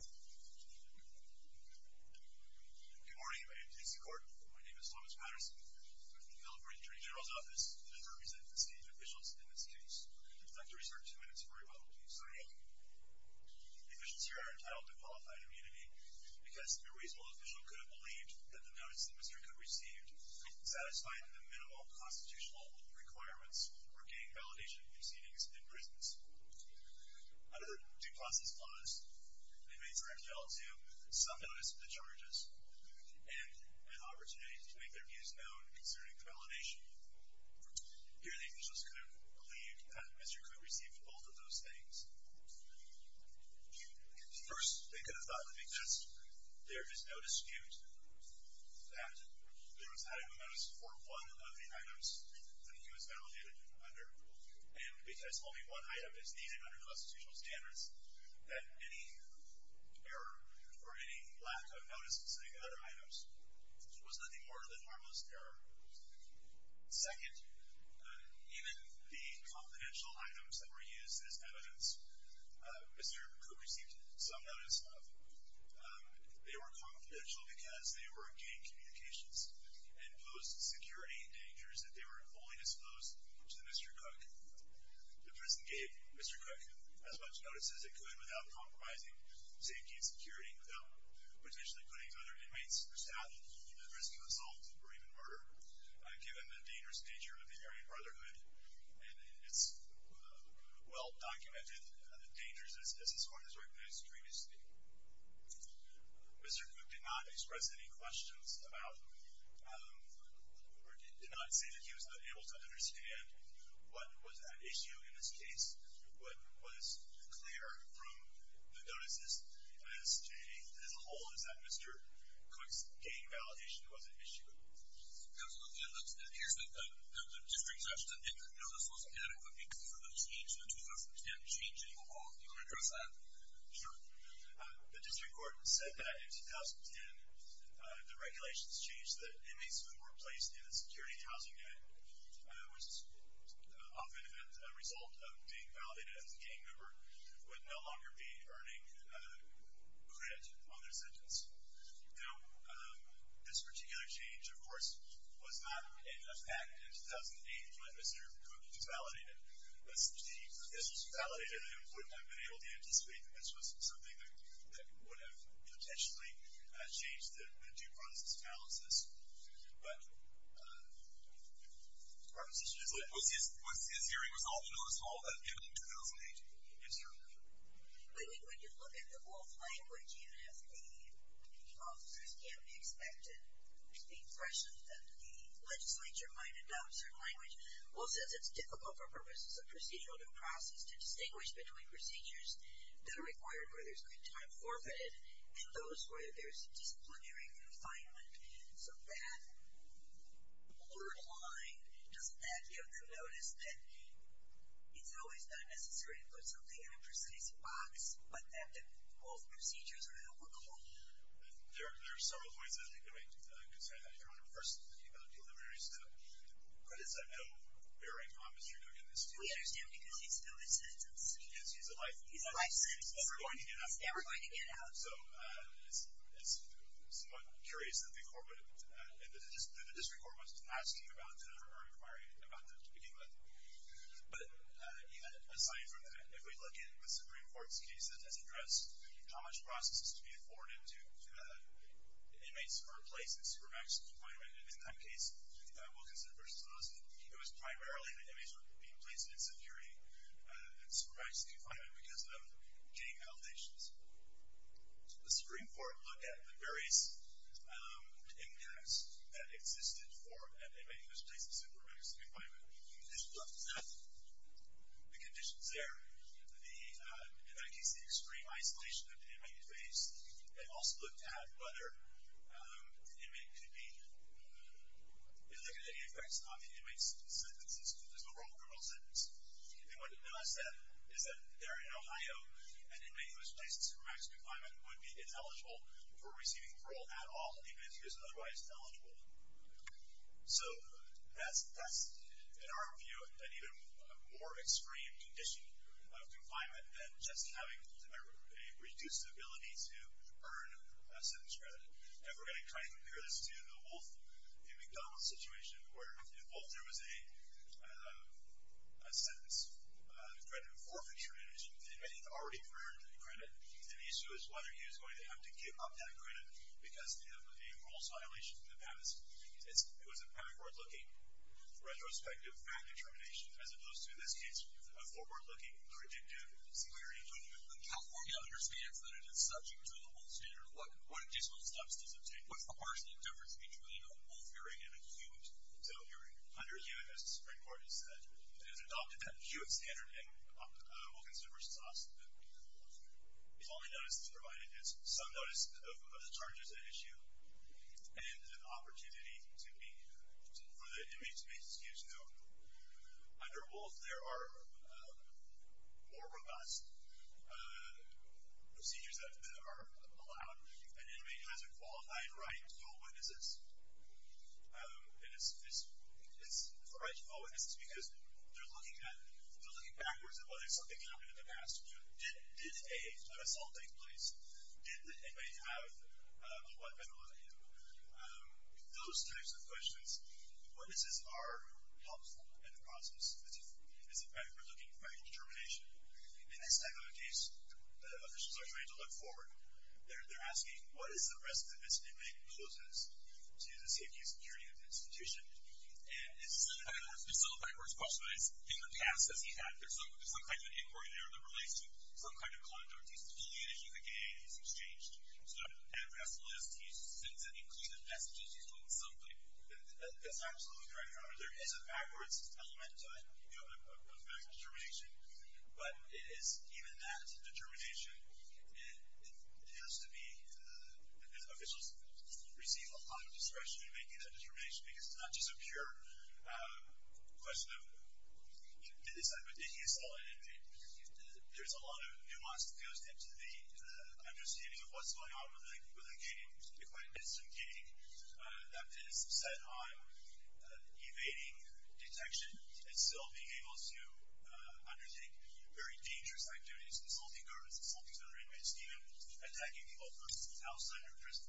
Good morning, my name is Thomas Patterson. I'm here to celebrate the Attorney General's office and to represent the seated officials in this case. I'd like to reserve two minutes for rebuttal. The officials here are entitled to qualified immunity because a reasonable official could have believed that the notice the Mr. Cook received satisfied the minimal constitutional requirements for gaining validation proceedings in prisons. Under due process laws, they may turn to some notice of the charges and an opportunity to make their views known concerning validation. Here, the officials could have believed that Mr. Cook received both of those things. First, they could have thought that because there is no dispute that there was not a notice for one of the items that he was validated under and because only one item is needed under constitutional standards that any error or any lack of notice concerning other items was nothing more than harmless error. Second, even the confidential items that were used as evidence Mr. Cook received some notice of, they were confidential because they were in gang communications and posed security dangers if they were fully disposed to Mr. Cook. The prison gave Mr. Cook as much notice as it could without compromising safety and security, without potentially putting other inmates at risk of assault or even murder given the dangerous nature of the Aryan Brotherhood and its well-documented dangers as this court has recognized previously. Mr. Cook did not express any questions about or did not say that he was unable to understand what was at issue in this case, what was clear from the notices as a whole is that Mr. Cook's gang validation was an issue. Absolutely, and it appears that the district judge said, you know, this wasn't inadequate because of the change, the 2010 change in the law. Do you want to address that? Sure. The district court said that in the change that inmates who were placed in the Security and Housing Act, which is often a result of being validated as a gang member, would no longer be earning credit on their sentence. Now, this particular change, of course, was not in effect in 2008 when Mr. Cook was validated, but since the officials who validated him would have been able to anticipate that this was something that but his hearing was often on assault at the end of 2008. But when you look at the Woolf language, you have the officers can't be expected to be impressioned that the legislature might adopt certain language. Woolf says it's difficult for purposes of procedural due process to distinguish between procedures that are required where there's that blurred line. Doesn't that get them to notice that it's always not necessary to put something in a precise box, but that the both procedures are illogical? There are several ways I think of it. I'm concerned that if you're on a personal thing about deliveries, credits are no bearing on Mr. Cook in this case. We understand because he's still his sentence. Yes, he's a life sentence. He's never going to get out. He's never going to get out. So, it's somewhat curious that the District Court wasn't asking about them or requiring about them to begin with. But aside from that, if we look at the Supreme Court's case that has addressed how much process is to be afforded to inmates who are placed in supermax confinement, in this kind of case, Wilkinson v. Wilson, it was primarily that inmates were being placed in security and supermax confinement because of gang allegations. The Supreme Court looked at the various impacts that existed for an inmate who was placed in supermax confinement. The conditions there, the, in that case, the extreme isolation that the inmate could face. It also looked at whether the inmate could be, it looked at any effects on the inmate's sentences, because there's no parole sentence. And what I said is that there in Ohio, an inmate who was placed in supermax confinement would be ineligible for receiving parole at all, even if he was otherwise ineligible. So, that's, in our view, an even more extreme condition of confinement than just having a reduced ability to earn a sentence credit. And we're going to try and compare this to the Wolf v. McDonald situation, where if Wolf there was a sentence credit for future innovation, the inmate had already earned a credit. And the issue is whether he was going to have to give up that credit because of a parole violation in the past. It was a backward-looking retrospective fact determination, as opposed to, in this case, a forward-looking predictive security judgment. When California understands that it is subject to the Wolf standard, what additional steps does it take? Of course, the difference between a Wolf hearing and a Huet hearing. Under Huet, as the Supreme Court has said, it has adopted that Huet standard, and Wolf v. Sauce has only provided some notice of the charges at issue and an opportunity to be, for the inmate to be excused. Now, under Wolf, there are more robust procedures that are allowed. An inmate has a qualified right to call witnesses. And it's a right to call witnesses because they're looking at, they're looking backwards at whether something happened in the past. Did a assault take place? Did the inmate have a weapon with him? Those types of questions, witnesses are helpful in the process. As a matter of fact, we're looking at fact determination. In this type of case, officials are trying to look forward. They're asking, what is the risk that this inmate poses to the safety and security of the institution? And it's still a backwards question. It's in the past, as he had. There's some kind of inquiry there that relates to some kind of contact. He's affiliated. He's a gay. He's exchanged. So, as it is, he sends an inclusive message. He's doing something. That's absolutely right. There is a backwards element to it, you know, of fact determination. But it is, even that determination, it has to be, officials receive a lot of discretion in making that determination because it's not just a pure question of, in this hypothetical inmate, there's a lot of nuance that goes into the understanding of what's going on with a gay, quite a distant gay, that is set on evading detection and still being able to undertake very dangerous activities, consulting guards, consulting other inmates, even attacking people, for instance, outside of prison.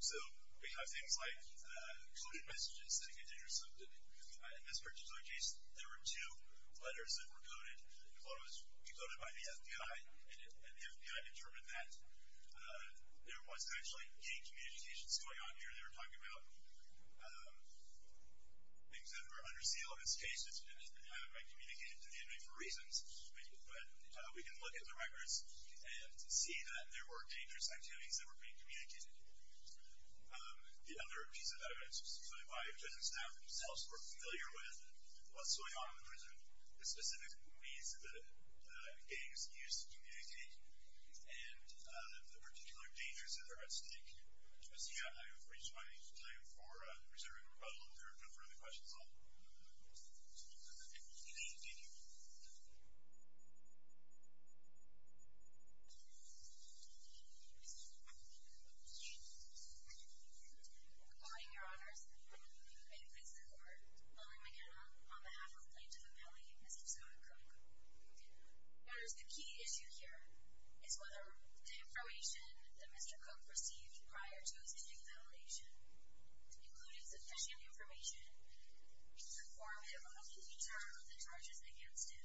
So, we have things like coded messages that get intercepted. In this particular case, there were two letters that were coded. One was decoded by the FBI, and the FBI determined that there was actually gay communications going on here. They were talking about things that were under seal. In this case, it's been identified by communicating to the inmate for reasons, but we can look at the records and see that there were dangerous activities that were being communicated. The other piece of evidence is the FBI, which is now themselves more familiar with what's going on in prison, the specific means that gays use to communicate, and the particular dangers that are at stake. So, with that, I have reached my time for reserving a little bit of time for other questions. I'll turn it over to the inmate. Thank you. Good morning, Your Honors. May it please the Court, William McKenna, on behalf of the Plaintiff Appellee, Mr. Scott Crook. Your Honors, the key issue here is whether the information that Mr. Crook received prior to his initial validation included sufficient information to inform him of the nature of the charges against him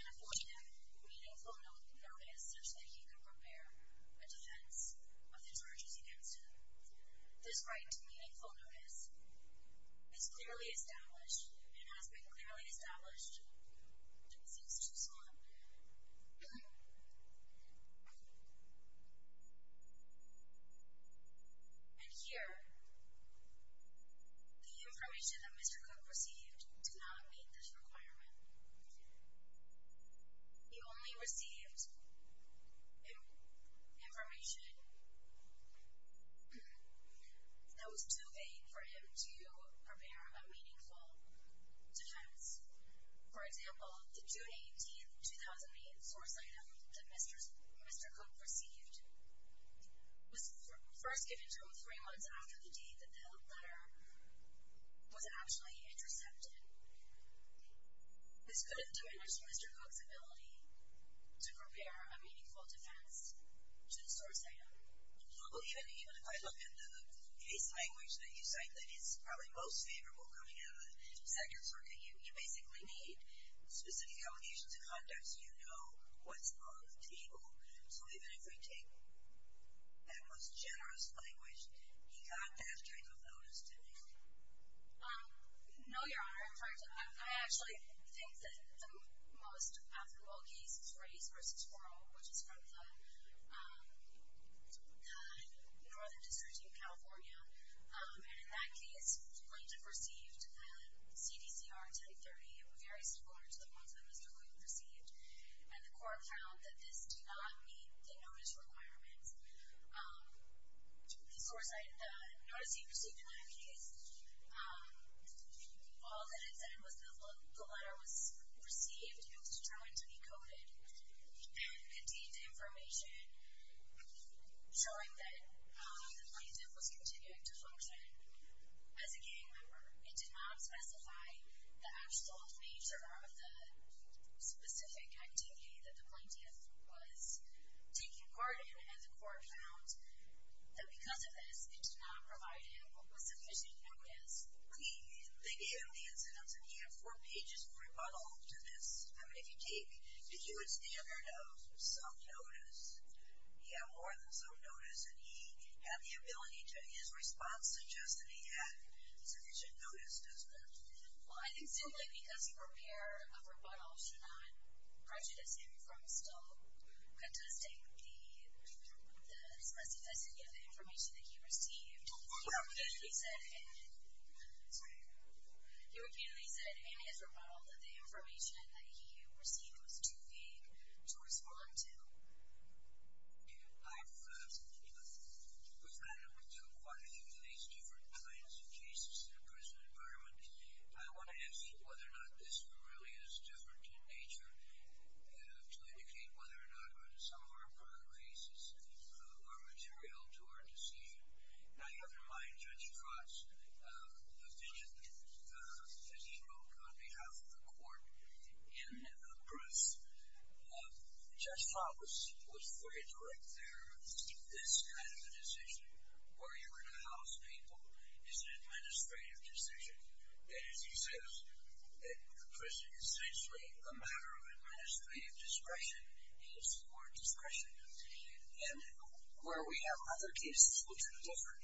and afford him meaningful notice such that he could prepare a defense of the charges against him. This right to meaningful notice is clearly established and has been established since Mr. Scott. And here, the information that Mr. Crook received did not meet this requirement. He only received information that was too vague for him to prepare a meaningful defense. For example, the June 18, 2008, source item that Mr. Crook received was first given to him three months after the date that the letter was actually intercepted. This could have diminished Mr. Crook's ability to prepare a meaningful defense to the source item. Well, even if I look at the case language that you cite that is probably most favorable coming out of the second circuit, you basically need specific allegations of conduct so you know what's on the table. So even if I take that most generous language, he got that type of notice to me. No, Your Honor. In fact, I actually think that the most affable case is race versus formal, which is from the Northern District in California, and in that case, Plaintiff received the CDCR type 30 very similar to the ones that Mr. Crook received, and the court found that this did not meet the notice requirements. The source item, the notice he received in that case, all that it said was the letter was received and was determined to be coded and contained information showing that the plaintiff was continuing to function as a gang member. It did not specify the actual nature of the specific activity that the plaintiff was taking part in, and the court found that because of this, it did not provide him with sufficient notice. They gave him the incidence, and he had four pages of rebuttal to this. I mean, if you would stand there and have some notice, he had more than some notice, and he had the ability to, his response suggested he had sufficient notice, doesn't it? Well, I think simply because you prepare a rebuttal should not prejudice him from still contesting the specificity of the information that he received. He repeatedly said in his rebuttal that the information that he received was too vague to respond to. I have something to add. With that, I'm going to go quite a few of these different kinds of cases in the prison environment. I want to ask whether or not this really is different in nature to indicate whether or not some of our prior cases are material to our decision. Now, you have in mind Judge Trotz, the vision that he wrote on behalf of the court in Bruce. Judge Trotz was very direct there. This kind of a decision, where you're going to house people, is an administrative decision. That is, he says that the prison is essentially a matter of administrative discretion, and it's the word discretion. And where we have other cases which are covered,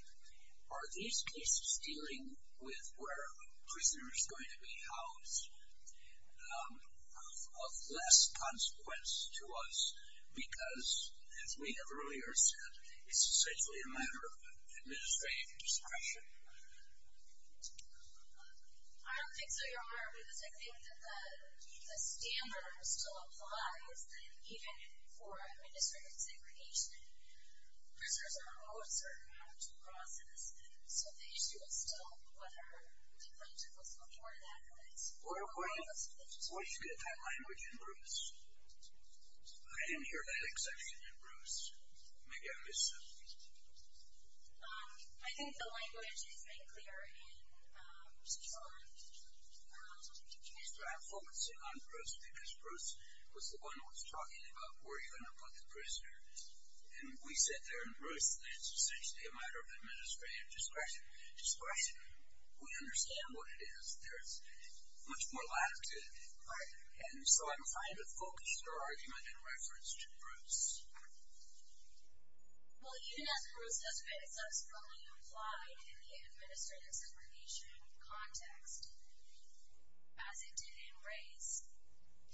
are these cases dealing with where a prisoner is going to be housed of less consequence to us? Because, as we have earlier said, it's essentially a matter of administrative discretion. I don't think so, Your Honor, because I think that the standard still applies even for administrative discretion. Prisoners are all a certain amount of process, so the issue is still whether the plaintiff was going to warrant an acquittal. Were you able to get that language in Bruce? I didn't hear that exception in Bruce. Maybe I missed something. I think the language is very clear in Judge Trotz's draft. Well, let's say on Bruce, because Bruce was the one who was talking about where you're going to put the prisoner. And we said there in Bruce that it's essentially a matter of administrative discretion. Discretion, we understand what it is. There's much more latitude, and so I'm trying to focus your argument in reference to Bruce. Well, even as Bruce has been subsequently implied in the administrative segregation context, as it did in Ray's,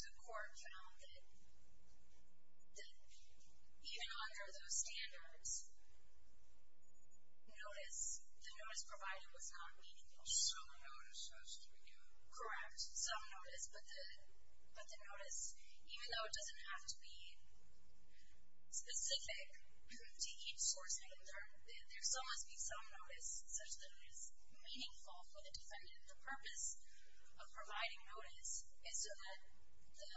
the court found that even under those standards, notice, the notice provided was not meaningful. Some notice, as you knew. Correct, some notice, but the notice, even though it doesn't have to be specific to each source, there must be some notice such that it is meaningful for the defendant. The purpose of providing notice is so that the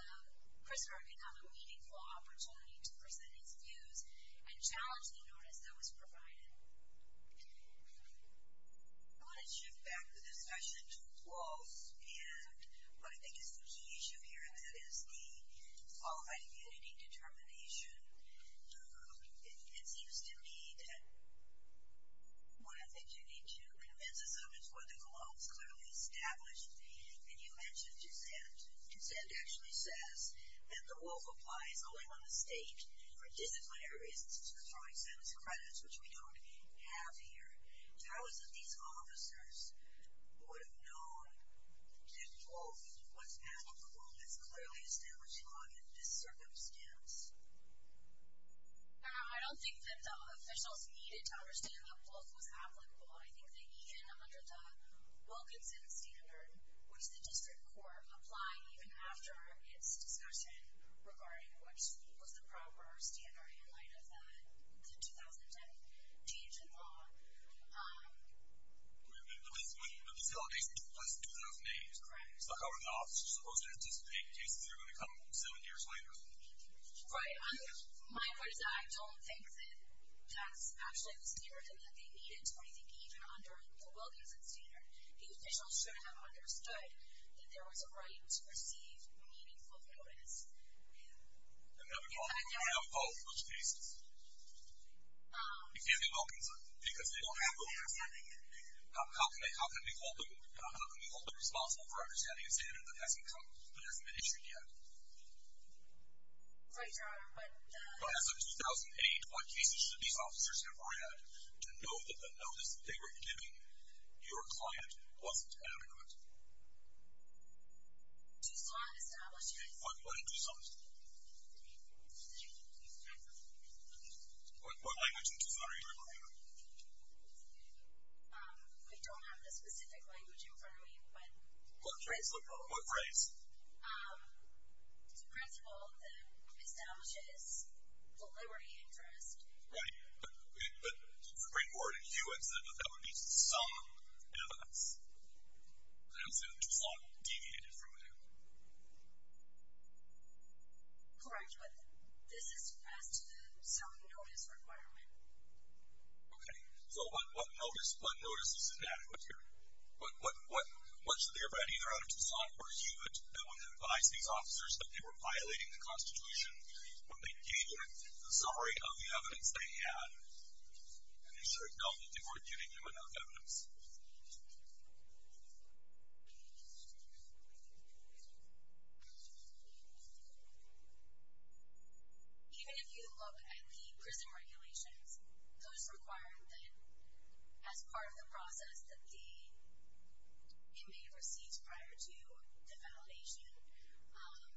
prisoner may have a meaningful opportunity to present his views and challenge the notice that was provided. I want to shift back the discussion to clothes, and what I think is the key issue here, and that is the qualified immunity determination. It seems to me that what I think you need to convince is what the cologne is clearly established, and you mentioned consent. Consent actually says that the wolf applies only on the state for disciplinary reasons. It's for throwing sentence credits, which we don't have here. How is it these officers would have known that, quote, what's bad in the cologne is clearly established on a miscircumstance? Now, I don't think that the officials needed to understand the wolf was applicable. I think even under the Wilkinson standard, which the district court applied even after its discussion regarding which was the proper standard in light of the 2010 change in law. Wait a minute, but the delegation took place in 2008. Correct. So how are the officers supposed to anticipate cases that are going to come seven years later? Right, my point is I don't think that that's actually the stereotype that they needed to rethink, even under the Wilkinson standard. The officials shouldn't have understood that there was a right to receive meaningful notice. And then we're going to have both those cases. If you're the Wilkinson, because they don't have Wilkinson, how can they, how can we hold them responsible for cases that these officers never had to know that the notice that they were giving your client wasn't adequate? Too slow on establishment. What, what in Tucson? What language in Tucson are you referring to? We don't have the specific language in front of me, but... What phrase, what phrase? Um, it's a principle that establishes deliberate interest. Right, but, but, but the great word in you is that that would be some evidence. But I understand Tucson deviated from that. Correct, but this is as to the self-notice requirement. Okay, so what, what notice, what notice is inadequate here? What, what, what, what should anybody in or out of Tucson pursue it that would advise these officers that they were violating the Constitution when they gave it the summary of the evidence they had? And is there a doubt that they were giving you enough evidence? Even if you look at the prison regulations, those required then as part of the process that the inmate receives prior to the violation, um,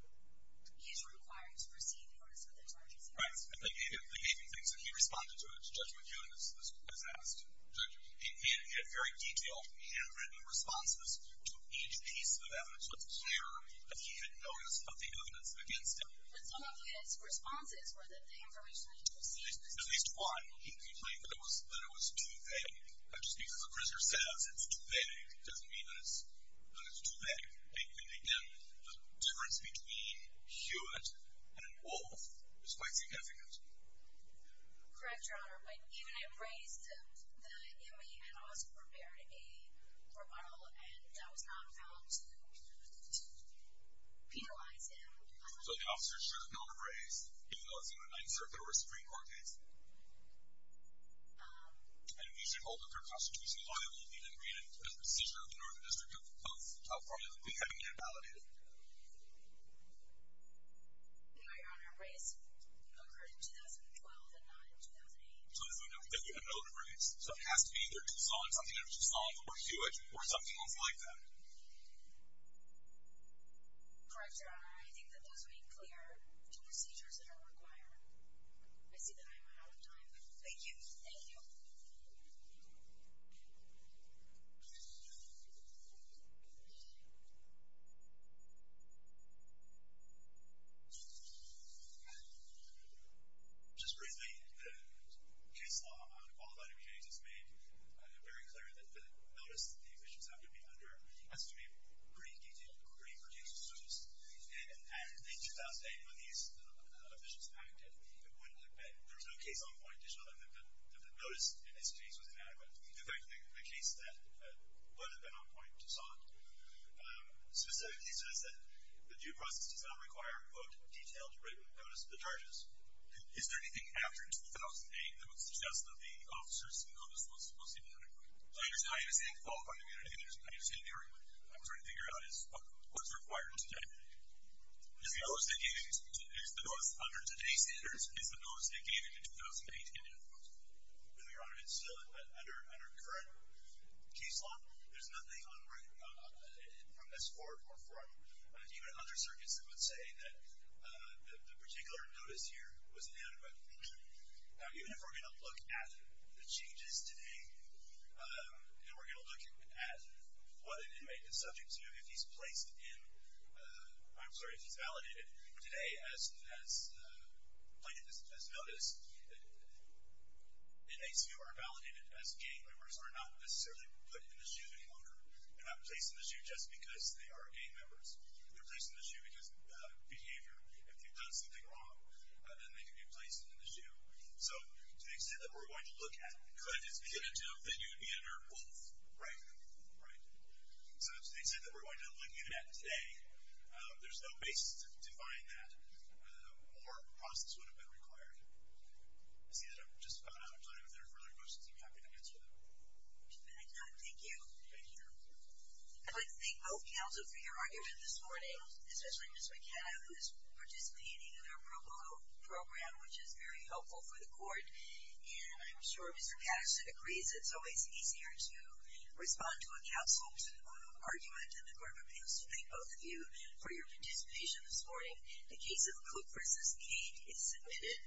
is required to receive notice of the charges. Right, and they gave him, they gave him things and he responded to it as Judge McEwen has, has asked judges. He, he had very detailed handwritten responses to each piece of evidence that's clear that he had notice of the evidence against him. But some of his responses were that the information that he received... At least, at least one. He complained that it was, that it was too vague. Just because a prisoner says it's too vague, doesn't mean that it's, that it's too vague. And again, the difference between Hewitt and Wolf is quite significant. Correct, Your Honor, but even I have raised the, the inmate had also prepared a rebuttal and that was not found to, to penalize him. So the officer should have known to raise, even though it's in a Ninth Circuit or a Supreme Court case? Um... And if he should hold a third constitutional liability that created a procedure of the Northern District of California, would he have been invalidated? No, Your Honor, a raise occurred in 2012 and not in 2008. So he would have known to raise. So it has to be either Tucson, something that was in Tucson, or Hewitt, or something else like that. Correct, Your Honor, I think that does make clear two procedures that are required. I see that I am out of time. Thank you. Thank you. Just briefly, the case law on qualified inmates has made very clear that the notice that the officiants have to be under has to be pretty detailed, pretty, pretty close. And in 2008, when these officials acted, there was no case on point that showed that the notice in this case was inadequate. In fact, the case that would have been on point, Tucson, specifically says that the due process does not require, quote, detailed written notice of the charges. Is there anything after 2008 that would suggest that the officer's notice was supposed to be under? I understand you're saying qualified inmate, I understand the argument. I'm trying to figure out is, what's required today? Is the notice that gave you, is the notice under today's standards, is the notice that gave you in 2008 inadequate? No, Your Honor, it's still under current case law. There's nothing from this court or from even other circuits that would say that the particular notice here was inadequate. Now, even if we're going to look at the changes today, and we're going to look at what an inmate is subject to if he's placed in, I'm sorry, if he's validated. Today, as plaintiff has noticed, inmates who are validated as gang members are not necessarily put in the SHU any longer. They're not placed in the SHU just because they are gang members. They're placed in the SHU because of behavior. If they've done something wrong, then they can be placed in the SHU. So, to the extent that we're going to look at, plaintiff's beginning to note that you'd be under both, right? Right. So, to the extent that we're going to look at today, there's no basis to define that, or a process would have been required. I see that I'm just about out of time. If there are further questions, I'd be happy to answer them. Thank you. Thank you, Your Honor. I'd like to thank both counsel for your argument this morning, especially Ms. McKenna, who is participating in the approval program, which is very helpful for the court. And I'm sure Mr. Cash agrees it's always easier to respond to a counsel's argument. And the court prepares to thank both of you for your participation this morning. The case of Cook v. Cade is submitted.